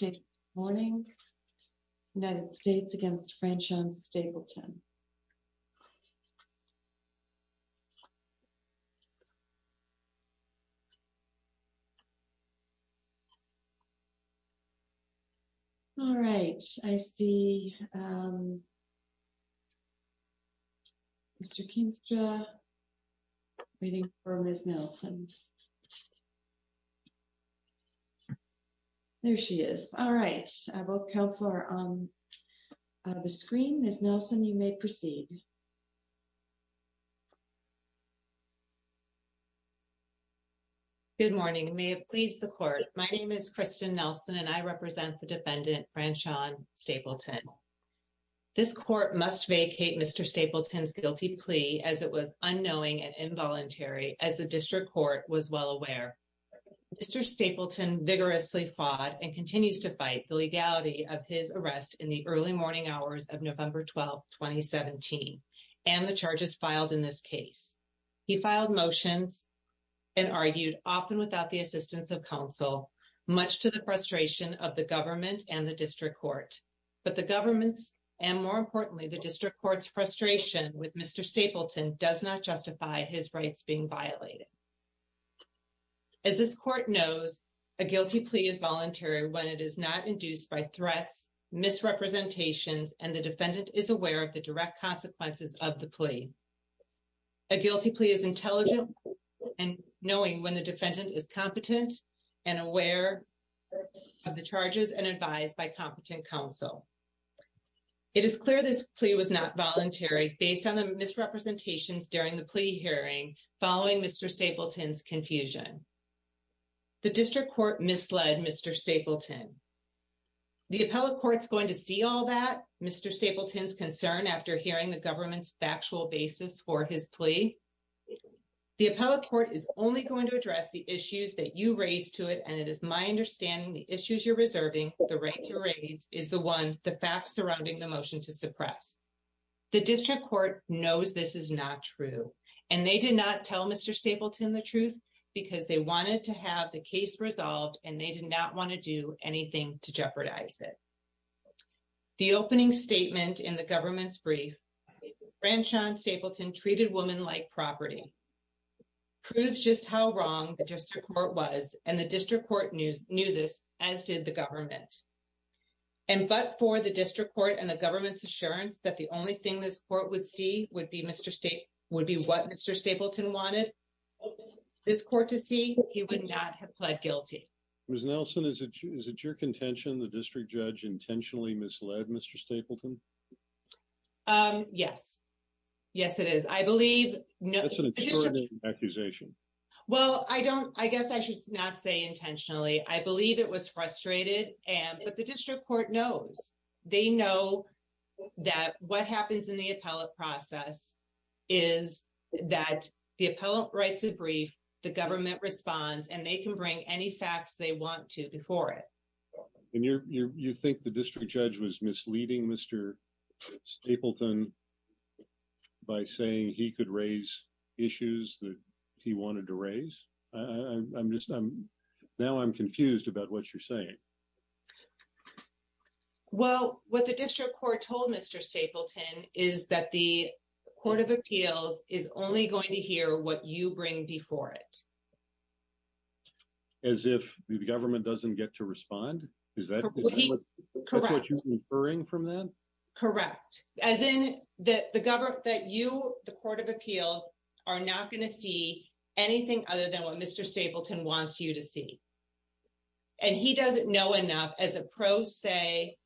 Good morning. United States against Franshon Stapleton. All right, I see Mr. Keenstra waiting for Ms. Nelson. There she is. All right, both counsel are on the screen. Ms. Nelson, you may proceed. Good morning. May it please the court. My name is Kristen Nelson and I represent the defendant, Franshon Stapleton. This court must vacate Mr. Stapleton's guilty plea as it was unknowing and involuntary as the district court was well aware. Mr. Stapleton vigorously fought and continues to fight the legality of his arrest in the early morning hours of November 12, 2017, and the charges filed in this case. He filed motions and argued often without the assistance of counsel, much to the frustration of the government and the district court. But the government's, and more importantly, the district court's frustration with Mr. Stapleton does not justify his rights being violated. As this court knows, a guilty plea is voluntary when it is not induced by threats, misrepresentations, and the defendant is aware of the direct consequences of the plea. A guilty plea is intelligent and knowing when the defendant is competent and aware of the charges and advised by competent counsel. It is clear this plea was not voluntary based on the misrepresentations during the plea hearing following Mr. Stapleton's confusion. The district court misled Mr. Stapleton. The appellate court's going to see all that, Mr. Stapleton's concern after hearing the government's factual basis for his plea. The appellate court is only going to address the issues that you raised to it, and it is my understanding the issues you're reserving, the right to raise, is the one, the facts surrounding the motion to suppress. The district court knows this is not true, and they did not tell Mr. Stapleton the truth because they wanted to have the case resolved and they did not want to do anything to jeopardize it. The opening statement in the government's brief, Ranjan Stapleton treated woman like property, proves just how wrong the district court was, and the district court knew this, as did the government. And but for the district court and the government's assurance that the only thing this court would see would be what Mr. Stapleton wanted this court to see, he would not have pled guilty. Ms. Nelson, is it your contention the district judge intentionally misled Mr. Stapleton? Yes. Yes, it is. I believe no accusation. Well, I don't, I guess I should not say intentionally, I believe it was frustrated and but the district court knows. They know that what happens in the appellate process is that the appellate writes a brief, the government responds, and they can bring any facts they want to before it. And you think the district judge was misleading Mr. Stapleton by saying he could raise issues that he wanted to raise? I'm just, now I'm confused about what you're saying. Well, what the district court told Mr. Stapleton is that the Court of Appeals is only going to hear what you bring before it. As if the government doesn't get to respond, is that what you're inferring from that? Correct. As in that the government, that you, the Court of Appeals, are not going to see anything other than what Mr. Stapleton wants you to see. And he doesn't know enough as a pro se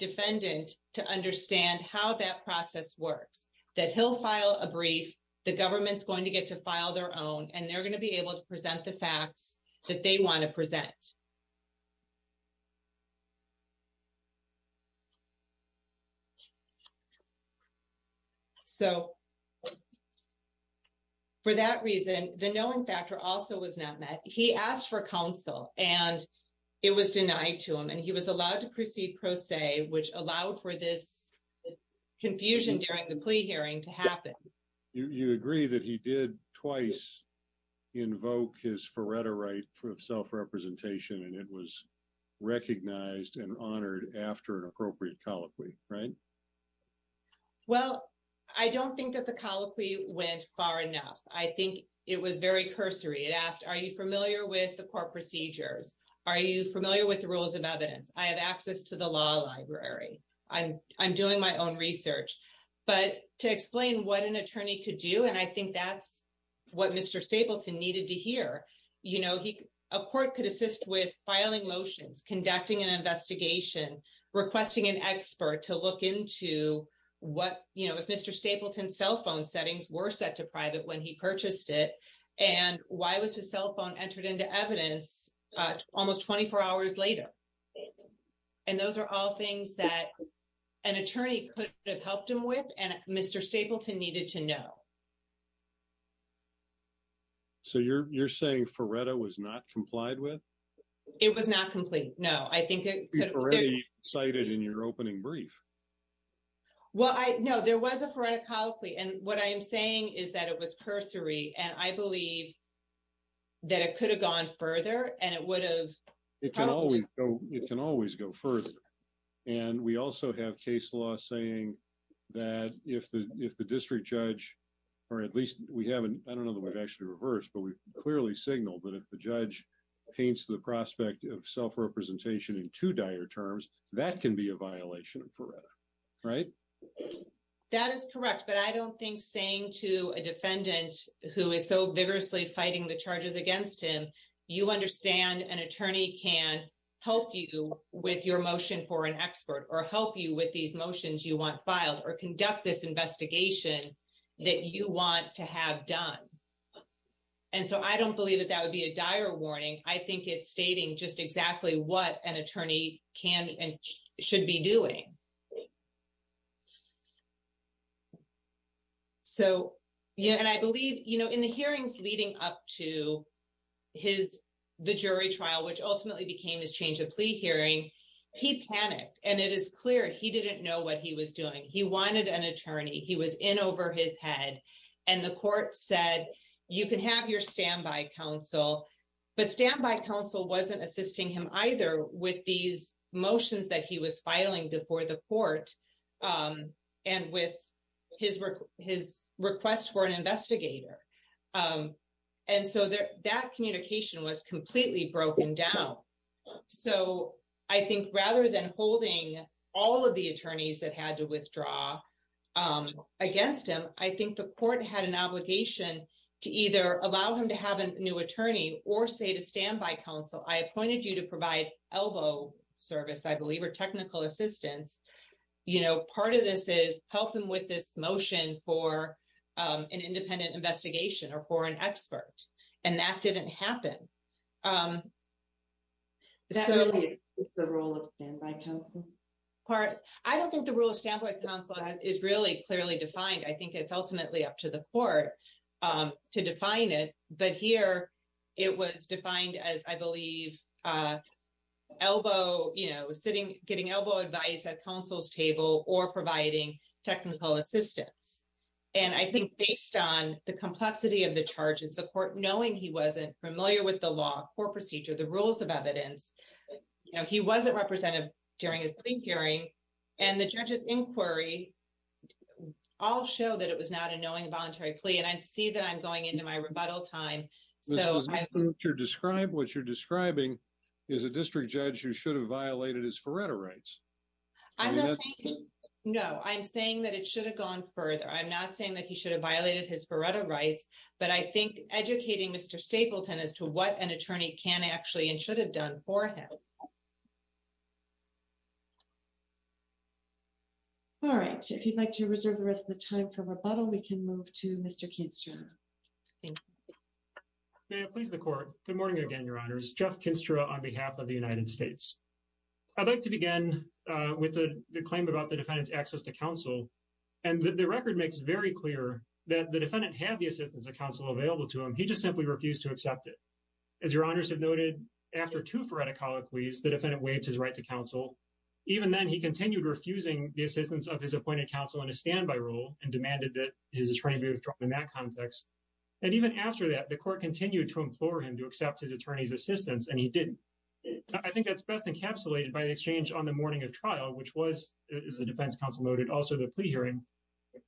defendant to understand how that process works. That he'll file a brief, the government's going to get to file their own, and they're going to be able to present the facts that they want to present. So, for that reason, the knowing factor also was not met. He asked for counsel, and it was denied to him, and he was allowed to proceed pro se, which allowed for this confusion during the plea hearing to happen. You agree that he did twice invoke his foretory for self-representation, and it was recognized and honored after an appropriate colloquy, right? Well, I don't think that the colloquy went far enough. I think it was very cursory. It asked, are you familiar with the court procedures? Are you familiar with the rules of evidence? I have access to the law library. I'm doing my own research. But to explain what an attorney could do, and I think that's what Mr. Stapleton needed to hear, a court could assist with filing motions, conducting an investigation, requesting an expert to look into what, if Mr. Stapleton's cell phone settings were set to private when he purchased it, and why was his cell phone entered into evidence almost 24 hours later? And those are all things that an attorney could have helped him with, and Mr. Stapleton needed to know. So you're saying Faretta was not complied with? It was not complied. No, I think it could have been. Faretta was cited in your opening brief. Well, no, there was a Faretta colloquy, and what I am saying is that it was cursory, and I believe that it could have gone further, and it would have probably... It can always go further, and we also have case law saying that if the district judge, or at least we have... I don't know that we've actually reversed, but we've clearly signaled that if the judge paints the prospect of self-representation in two dire terms, that can be a violation of Faretta, right? That is correct, but I don't think saying to a defendant who is so vigorously fighting the charges against him, you understand an attorney can help you with your motion for an expert, or help you with these motions you want filed, or conduct this investigation that you want to have done. And so I don't believe that that would be a dire warning. I think it's stating just exactly what an attorney can and should be doing. And I believe in the hearings leading up to the jury trial, which ultimately became his change of plea hearing, he panicked, and it is clear he didn't know what he was doing. He wanted an attorney. He was in over his head, and the court said, you can have your standby counsel, but standby counsel wasn't assisting him either with these motions that he was filing before the court, and with his request for an investigator. And so that communication was completely broken down. So I think rather than holding all of the attorneys that had to withdraw against him, I think the court had an obligation to either allow him to have a new attorney or say to standby counsel, I appointed you to provide elbow service, I believe, or technical assistance. Part of this is help him with this motion for an independent investigation or for an expert, and that didn't happen. That really is the role of standby counsel? I don't think the role of standby counsel is really clearly defined. I think it's ultimately up to the court to define it. But here, it was defined as, I believe, elbow, you know, getting elbow advice at counsel's table or providing technical assistance. And I think based on the complexity of the charges, the court, knowing he wasn't familiar with the law, court procedure, the rules of evidence, you know, he wasn't represented during his plea hearing. And the judge's inquiry all show that it was not a knowing voluntary plea, and I see that I'm going into my rebuttal time. So what you're describing is a district judge who should have violated his Faretta rights. No, I'm saying that it should have gone further. I'm not saying that he should have violated his Faretta rights. But I think educating Mr. Stapleton as to what an attorney can actually and should have done for him. All right, if you'd like to reserve the rest of the time for rebuttal, we can move to Mr. Kinstra. May it please the court. Good morning again, Your Honors. Jeff Kinstra on behalf of the United States. I'd like to begin with the claim about the defendant's access to counsel. And the record makes it very clear that the defendant had the assistance of counsel available to him. He just simply refused to accept it. As Your Honors have noted, after two Faretta colloquies, the defendant waived his right to counsel. Even then, he continued refusing the assistance of his appointed counsel in a standby role and demanded that his attorney be withdrawn in that context. And even after that, the court continued to implore him to accept his attorney's assistance, and he didn't. I think that's best encapsulated by the exchange on the morning of trial, which was, as the defense counsel noted, also the plea hearing.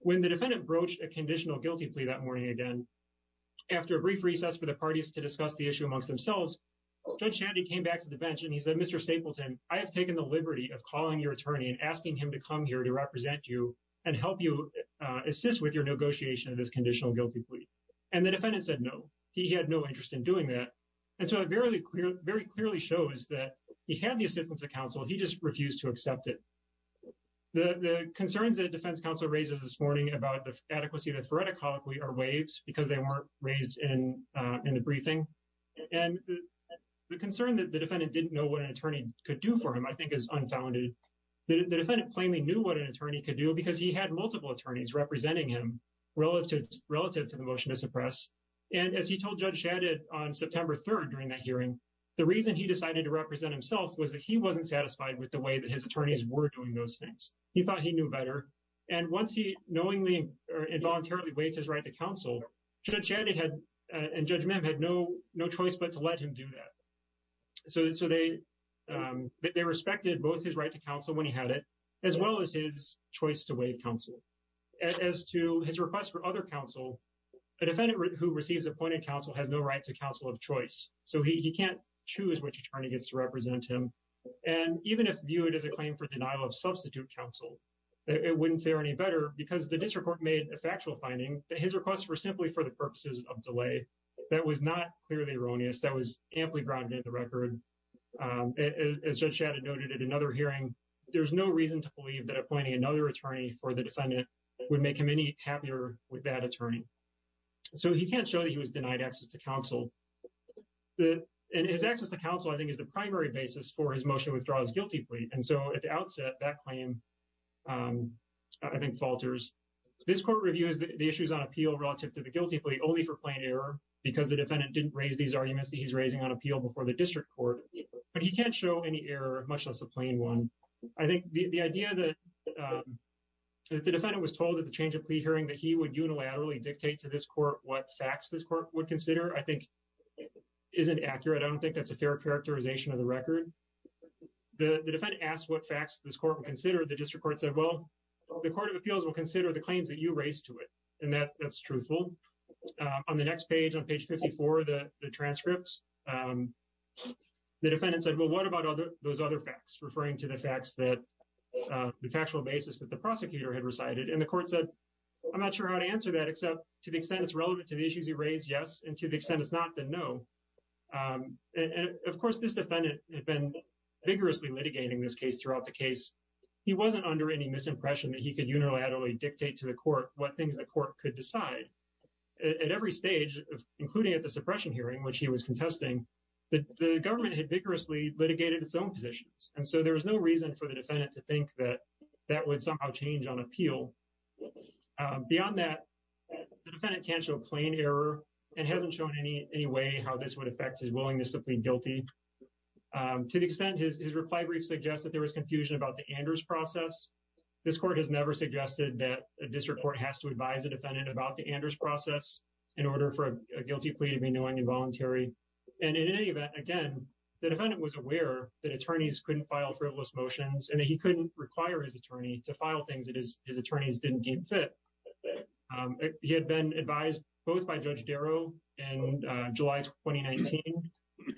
When the defendant broached a conditional guilty plea that morning again, after a brief recess for the parties to discuss the issue amongst themselves, Judge Shandy came back to the bench and he said, Mr. Stapleton, I have taken the liberty of calling your attorney and asking him to come here to represent you and help you assist with your negotiation of this conditional guilty plea. And the defendant said no. He had no interest in doing that. And so it very clearly shows that he had the assistance of counsel. He just refused to accept it. The concerns that a defense counsel raises this morning about the adequacy of the Faretta colloquy are waived because they weren't raised in the briefing. And the concern that the defendant didn't know what an attorney could do for him, I think, is unfounded. The defendant plainly knew what an attorney could do because he had multiple attorneys representing him relative to the motion to suppress. And as he told Judge Shandy on September 3rd during that hearing, the reason he decided to represent himself was that he wasn't satisfied with the way that his attorneys were doing those things. He thought he knew better. And once he knowingly or involuntarily waived his right to counsel, Judge Shandy and Judge Mehm had no choice but to let him do that. So they respected both his right to counsel when he had it, as well as his choice to waive counsel. As to his request for other counsel, a defendant who receives appointed counsel has no right to counsel of choice. So he can't choose which attorney gets to represent him. And even if viewed as a claim for denial of substitute counsel, it wouldn't fare any better because the district court made a factual finding that his requests were simply for the purposes of delay. That was not clearly erroneous. That was amply grounded in the record. As Judge Shandy noted at another hearing, there's no reason to believe that appointing another attorney for the defendant would make him any happier with that attorney. So he can't show that he was denied access to counsel. And his access to counsel, I think, is the primary basis for his motion withdraws guilty plea. And so at the outset, that claim, I think, falters. This court reviews the issues on appeal relative to the guilty plea only for plain error because the defendant didn't raise these arguments that he's raising on appeal before the district court. But he can't show any error, much less a plain one. I think the idea that the defendant was told at the change of plea hearing that he would unilaterally dictate to this court what facts this court would consider, isn't accurate. I don't think that's a fair characterization of the record. The defendant asked what facts this court would consider. The district court said, well, the court of appeals will consider the claims that you raised to it. And that's truthful. On the next page, on page 54, the transcripts, the defendant said, well, what about those other facts? Referring to the facts that, the factual basis that the prosecutor had recited. And the court said, I'm not sure how to answer that except to the extent it's relevant to the issues you raised, yes. And to the extent it's not, then no. And of course, this defendant had been vigorously litigating this case throughout the case. He wasn't under any misimpression that he could unilaterally dictate to the court what things the court could decide. At every stage, including at the suppression hearing, which he was contesting, the government had vigorously litigated its own positions. And so there was no reason for the defendant to think that that would somehow change on appeal. Beyond that, the defendant can't show plain error and hasn't shown any way how this would affect his willingness to plead guilty. To the extent his reply brief suggests that there was confusion about the Anders process. This court has never suggested that a district court has to advise a defendant about the Anders process in order for a guilty plea to be knowing and voluntary. And in any event, again, the defendant was aware that attorneys couldn't file frivolous motions. And he couldn't require his attorney to file things that his attorneys didn't deem fit. He had been advised both by Judge Darrow in July 2019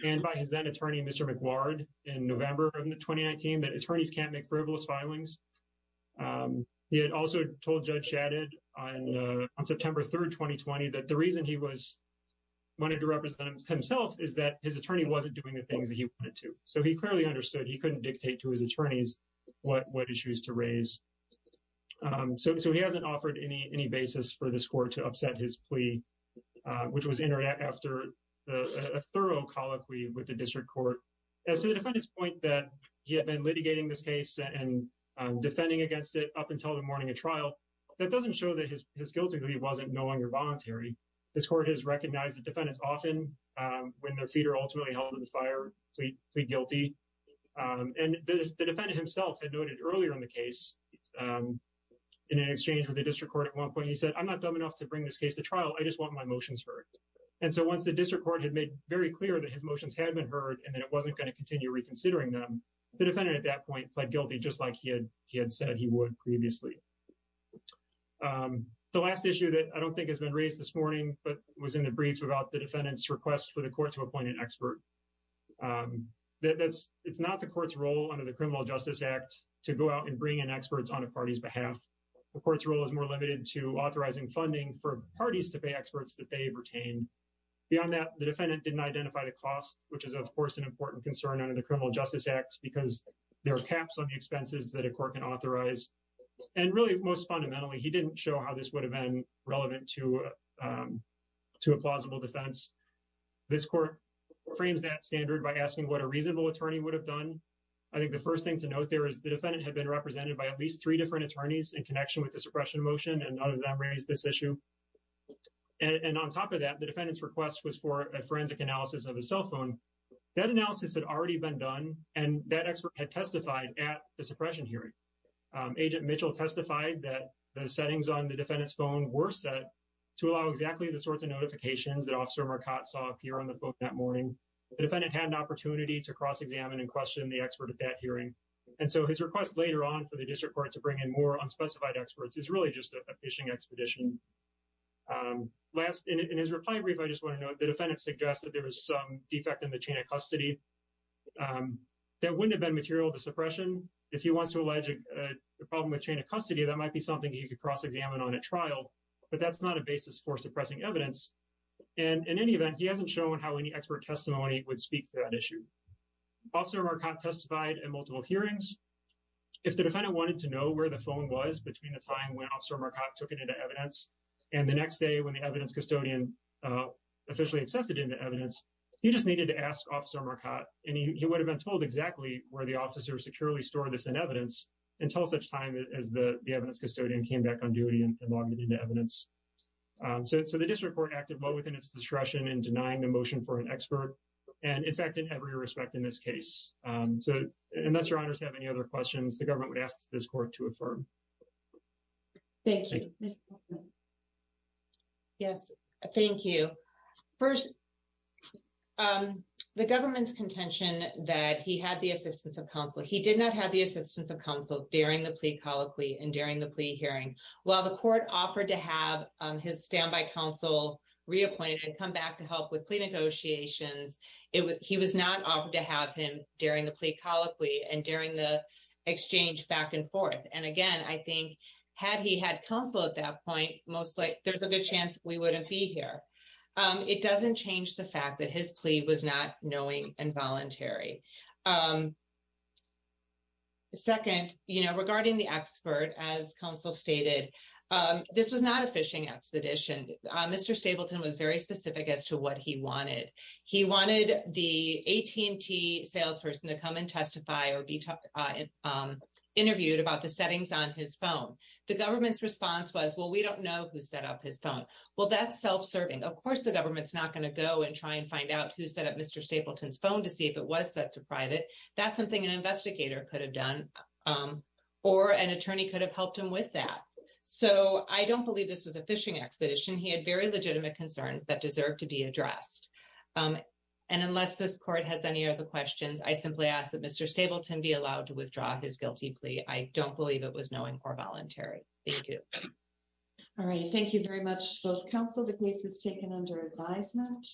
and by his then-attorney, Mr. McGuard, in November of 2019 that attorneys can't make frivolous filings. He had also told Judge Shadid on September 3rd, 2020, that the reason he wanted to represent himself is that his attorney wasn't doing the things that he wanted to. So he clearly understood he couldn't dictate to his attorneys what issues to raise. So he hasn't offered any basis for this court to upset his plea, which was entered after a thorough colloquy with the district court. As to the defendant's point that he had been litigating this case and defending against it up until the morning of trial, that doesn't show that his guilty plea wasn't knowing or voluntary. This court has recognized that defendants often, when their feet are ultimately held in the fire, plead guilty. And the defendant himself had noted earlier in the case, in an exchange with the district court at one point, he said, I'm not dumb enough to bring this case to trial. I just want my motions heard. And so once the district court had made very clear that his motions had been heard and that it wasn't going to continue reconsidering them, the defendant at that point pled guilty just like he had said he would previously. The last issue that I don't think has been raised this morning, but was in the briefs about the defendant's request for the court to appoint an expert. It's not the court's role under the Criminal Justice Act to go out and bring in experts on a party's behalf. The court's role is more limited to authorizing funding for parties to pay experts that they have retained. Beyond that, the defendant didn't identify the cost, which is, of course, an important concern under the Criminal Justice Act, because there are caps on the expenses that a court can authorize. And really, most fundamentally, he didn't show how this would have been relevant to a plausible defense. This court frames that standard by asking what a reasonable attorney would have done. I think the first thing to note there is the defendant had been represented by at least three different attorneys in connection with the suppression motion, and none of them raised this issue. And on top of that, the defendant's request was for a forensic analysis of a cell phone. That analysis had already been done, and that expert had testified at the suppression hearing. Agent Mitchell testified that the settings on the defendant's phone were set to allow exactly the sorts of notifications that Officer Marcotte saw appear on the phone that morning. The defendant had an opportunity to cross-examine and question the expert at that hearing. And so his request later on for the district court to bring in more unspecified experts is really just a fishing expedition. Last, in his reply brief, I just want to note, the defendant suggested there was some defect in the chain of custody that wouldn't have been material to suppression. If he wants to allege a problem with chain of custody, that might be something he could cross-examine on at trial, but that's not a basis for suppressing evidence. And in any event, he hasn't shown how any expert testimony would speak to that issue. Officer Marcotte testified in multiple hearings. If the defendant wanted to know where the phone was between the time when Officer Marcotte took it into evidence and the next day when the evidence custodian officially accepted it into evidence, he just needed to ask Officer Marcotte, and he would have been told exactly where the officer securely stored this in evidence until such time as the evidence custodian came back on duty and logged it into evidence. So the district court acted well within its discretion in denying the motion for an expert, and in fact, in every respect in this case. So unless your honors have any other questions, the government would ask this court to affirm. Thank you. Yes, thank you. First, the government's contention that he had the assistance of counsel. He did not have the assistance of counsel during the plea colloquy and during the plea hearing. While the court offered to have his standby counsel reappointed and come back to help with plea negotiations, he was not offered to have him during the plea colloquy and during the exchange back and forth. And again, I think had he had counsel at that point, there's a good chance we wouldn't be here. It doesn't change the fact that his plea was not knowing and voluntary. Second, you know, regarding the expert, as counsel stated, this was not a fishing expedition. Mr. Stapleton was very specific as to what he wanted. He wanted the AT&T salesperson to come and testify or be interviewed about the settings on his phone. The government's response was, well, we don't know who set up his phone. Well, that's self-serving. Of course the government's not going to go and try and find out who set up Mr. Stapleton's phone to see if it was set to private. That's something an investigator could have done or an attorney could have helped him with that. So I don't believe this was a fishing expedition. He had very legitimate concerns that deserve to be addressed. And unless this court has any other questions, I simply ask that Mr. Stapleton be allowed to withdraw his guilty plea. I don't believe it was knowing or voluntary. Thank you. All right. Thank you very much, both counsel. The case is taken under advisement.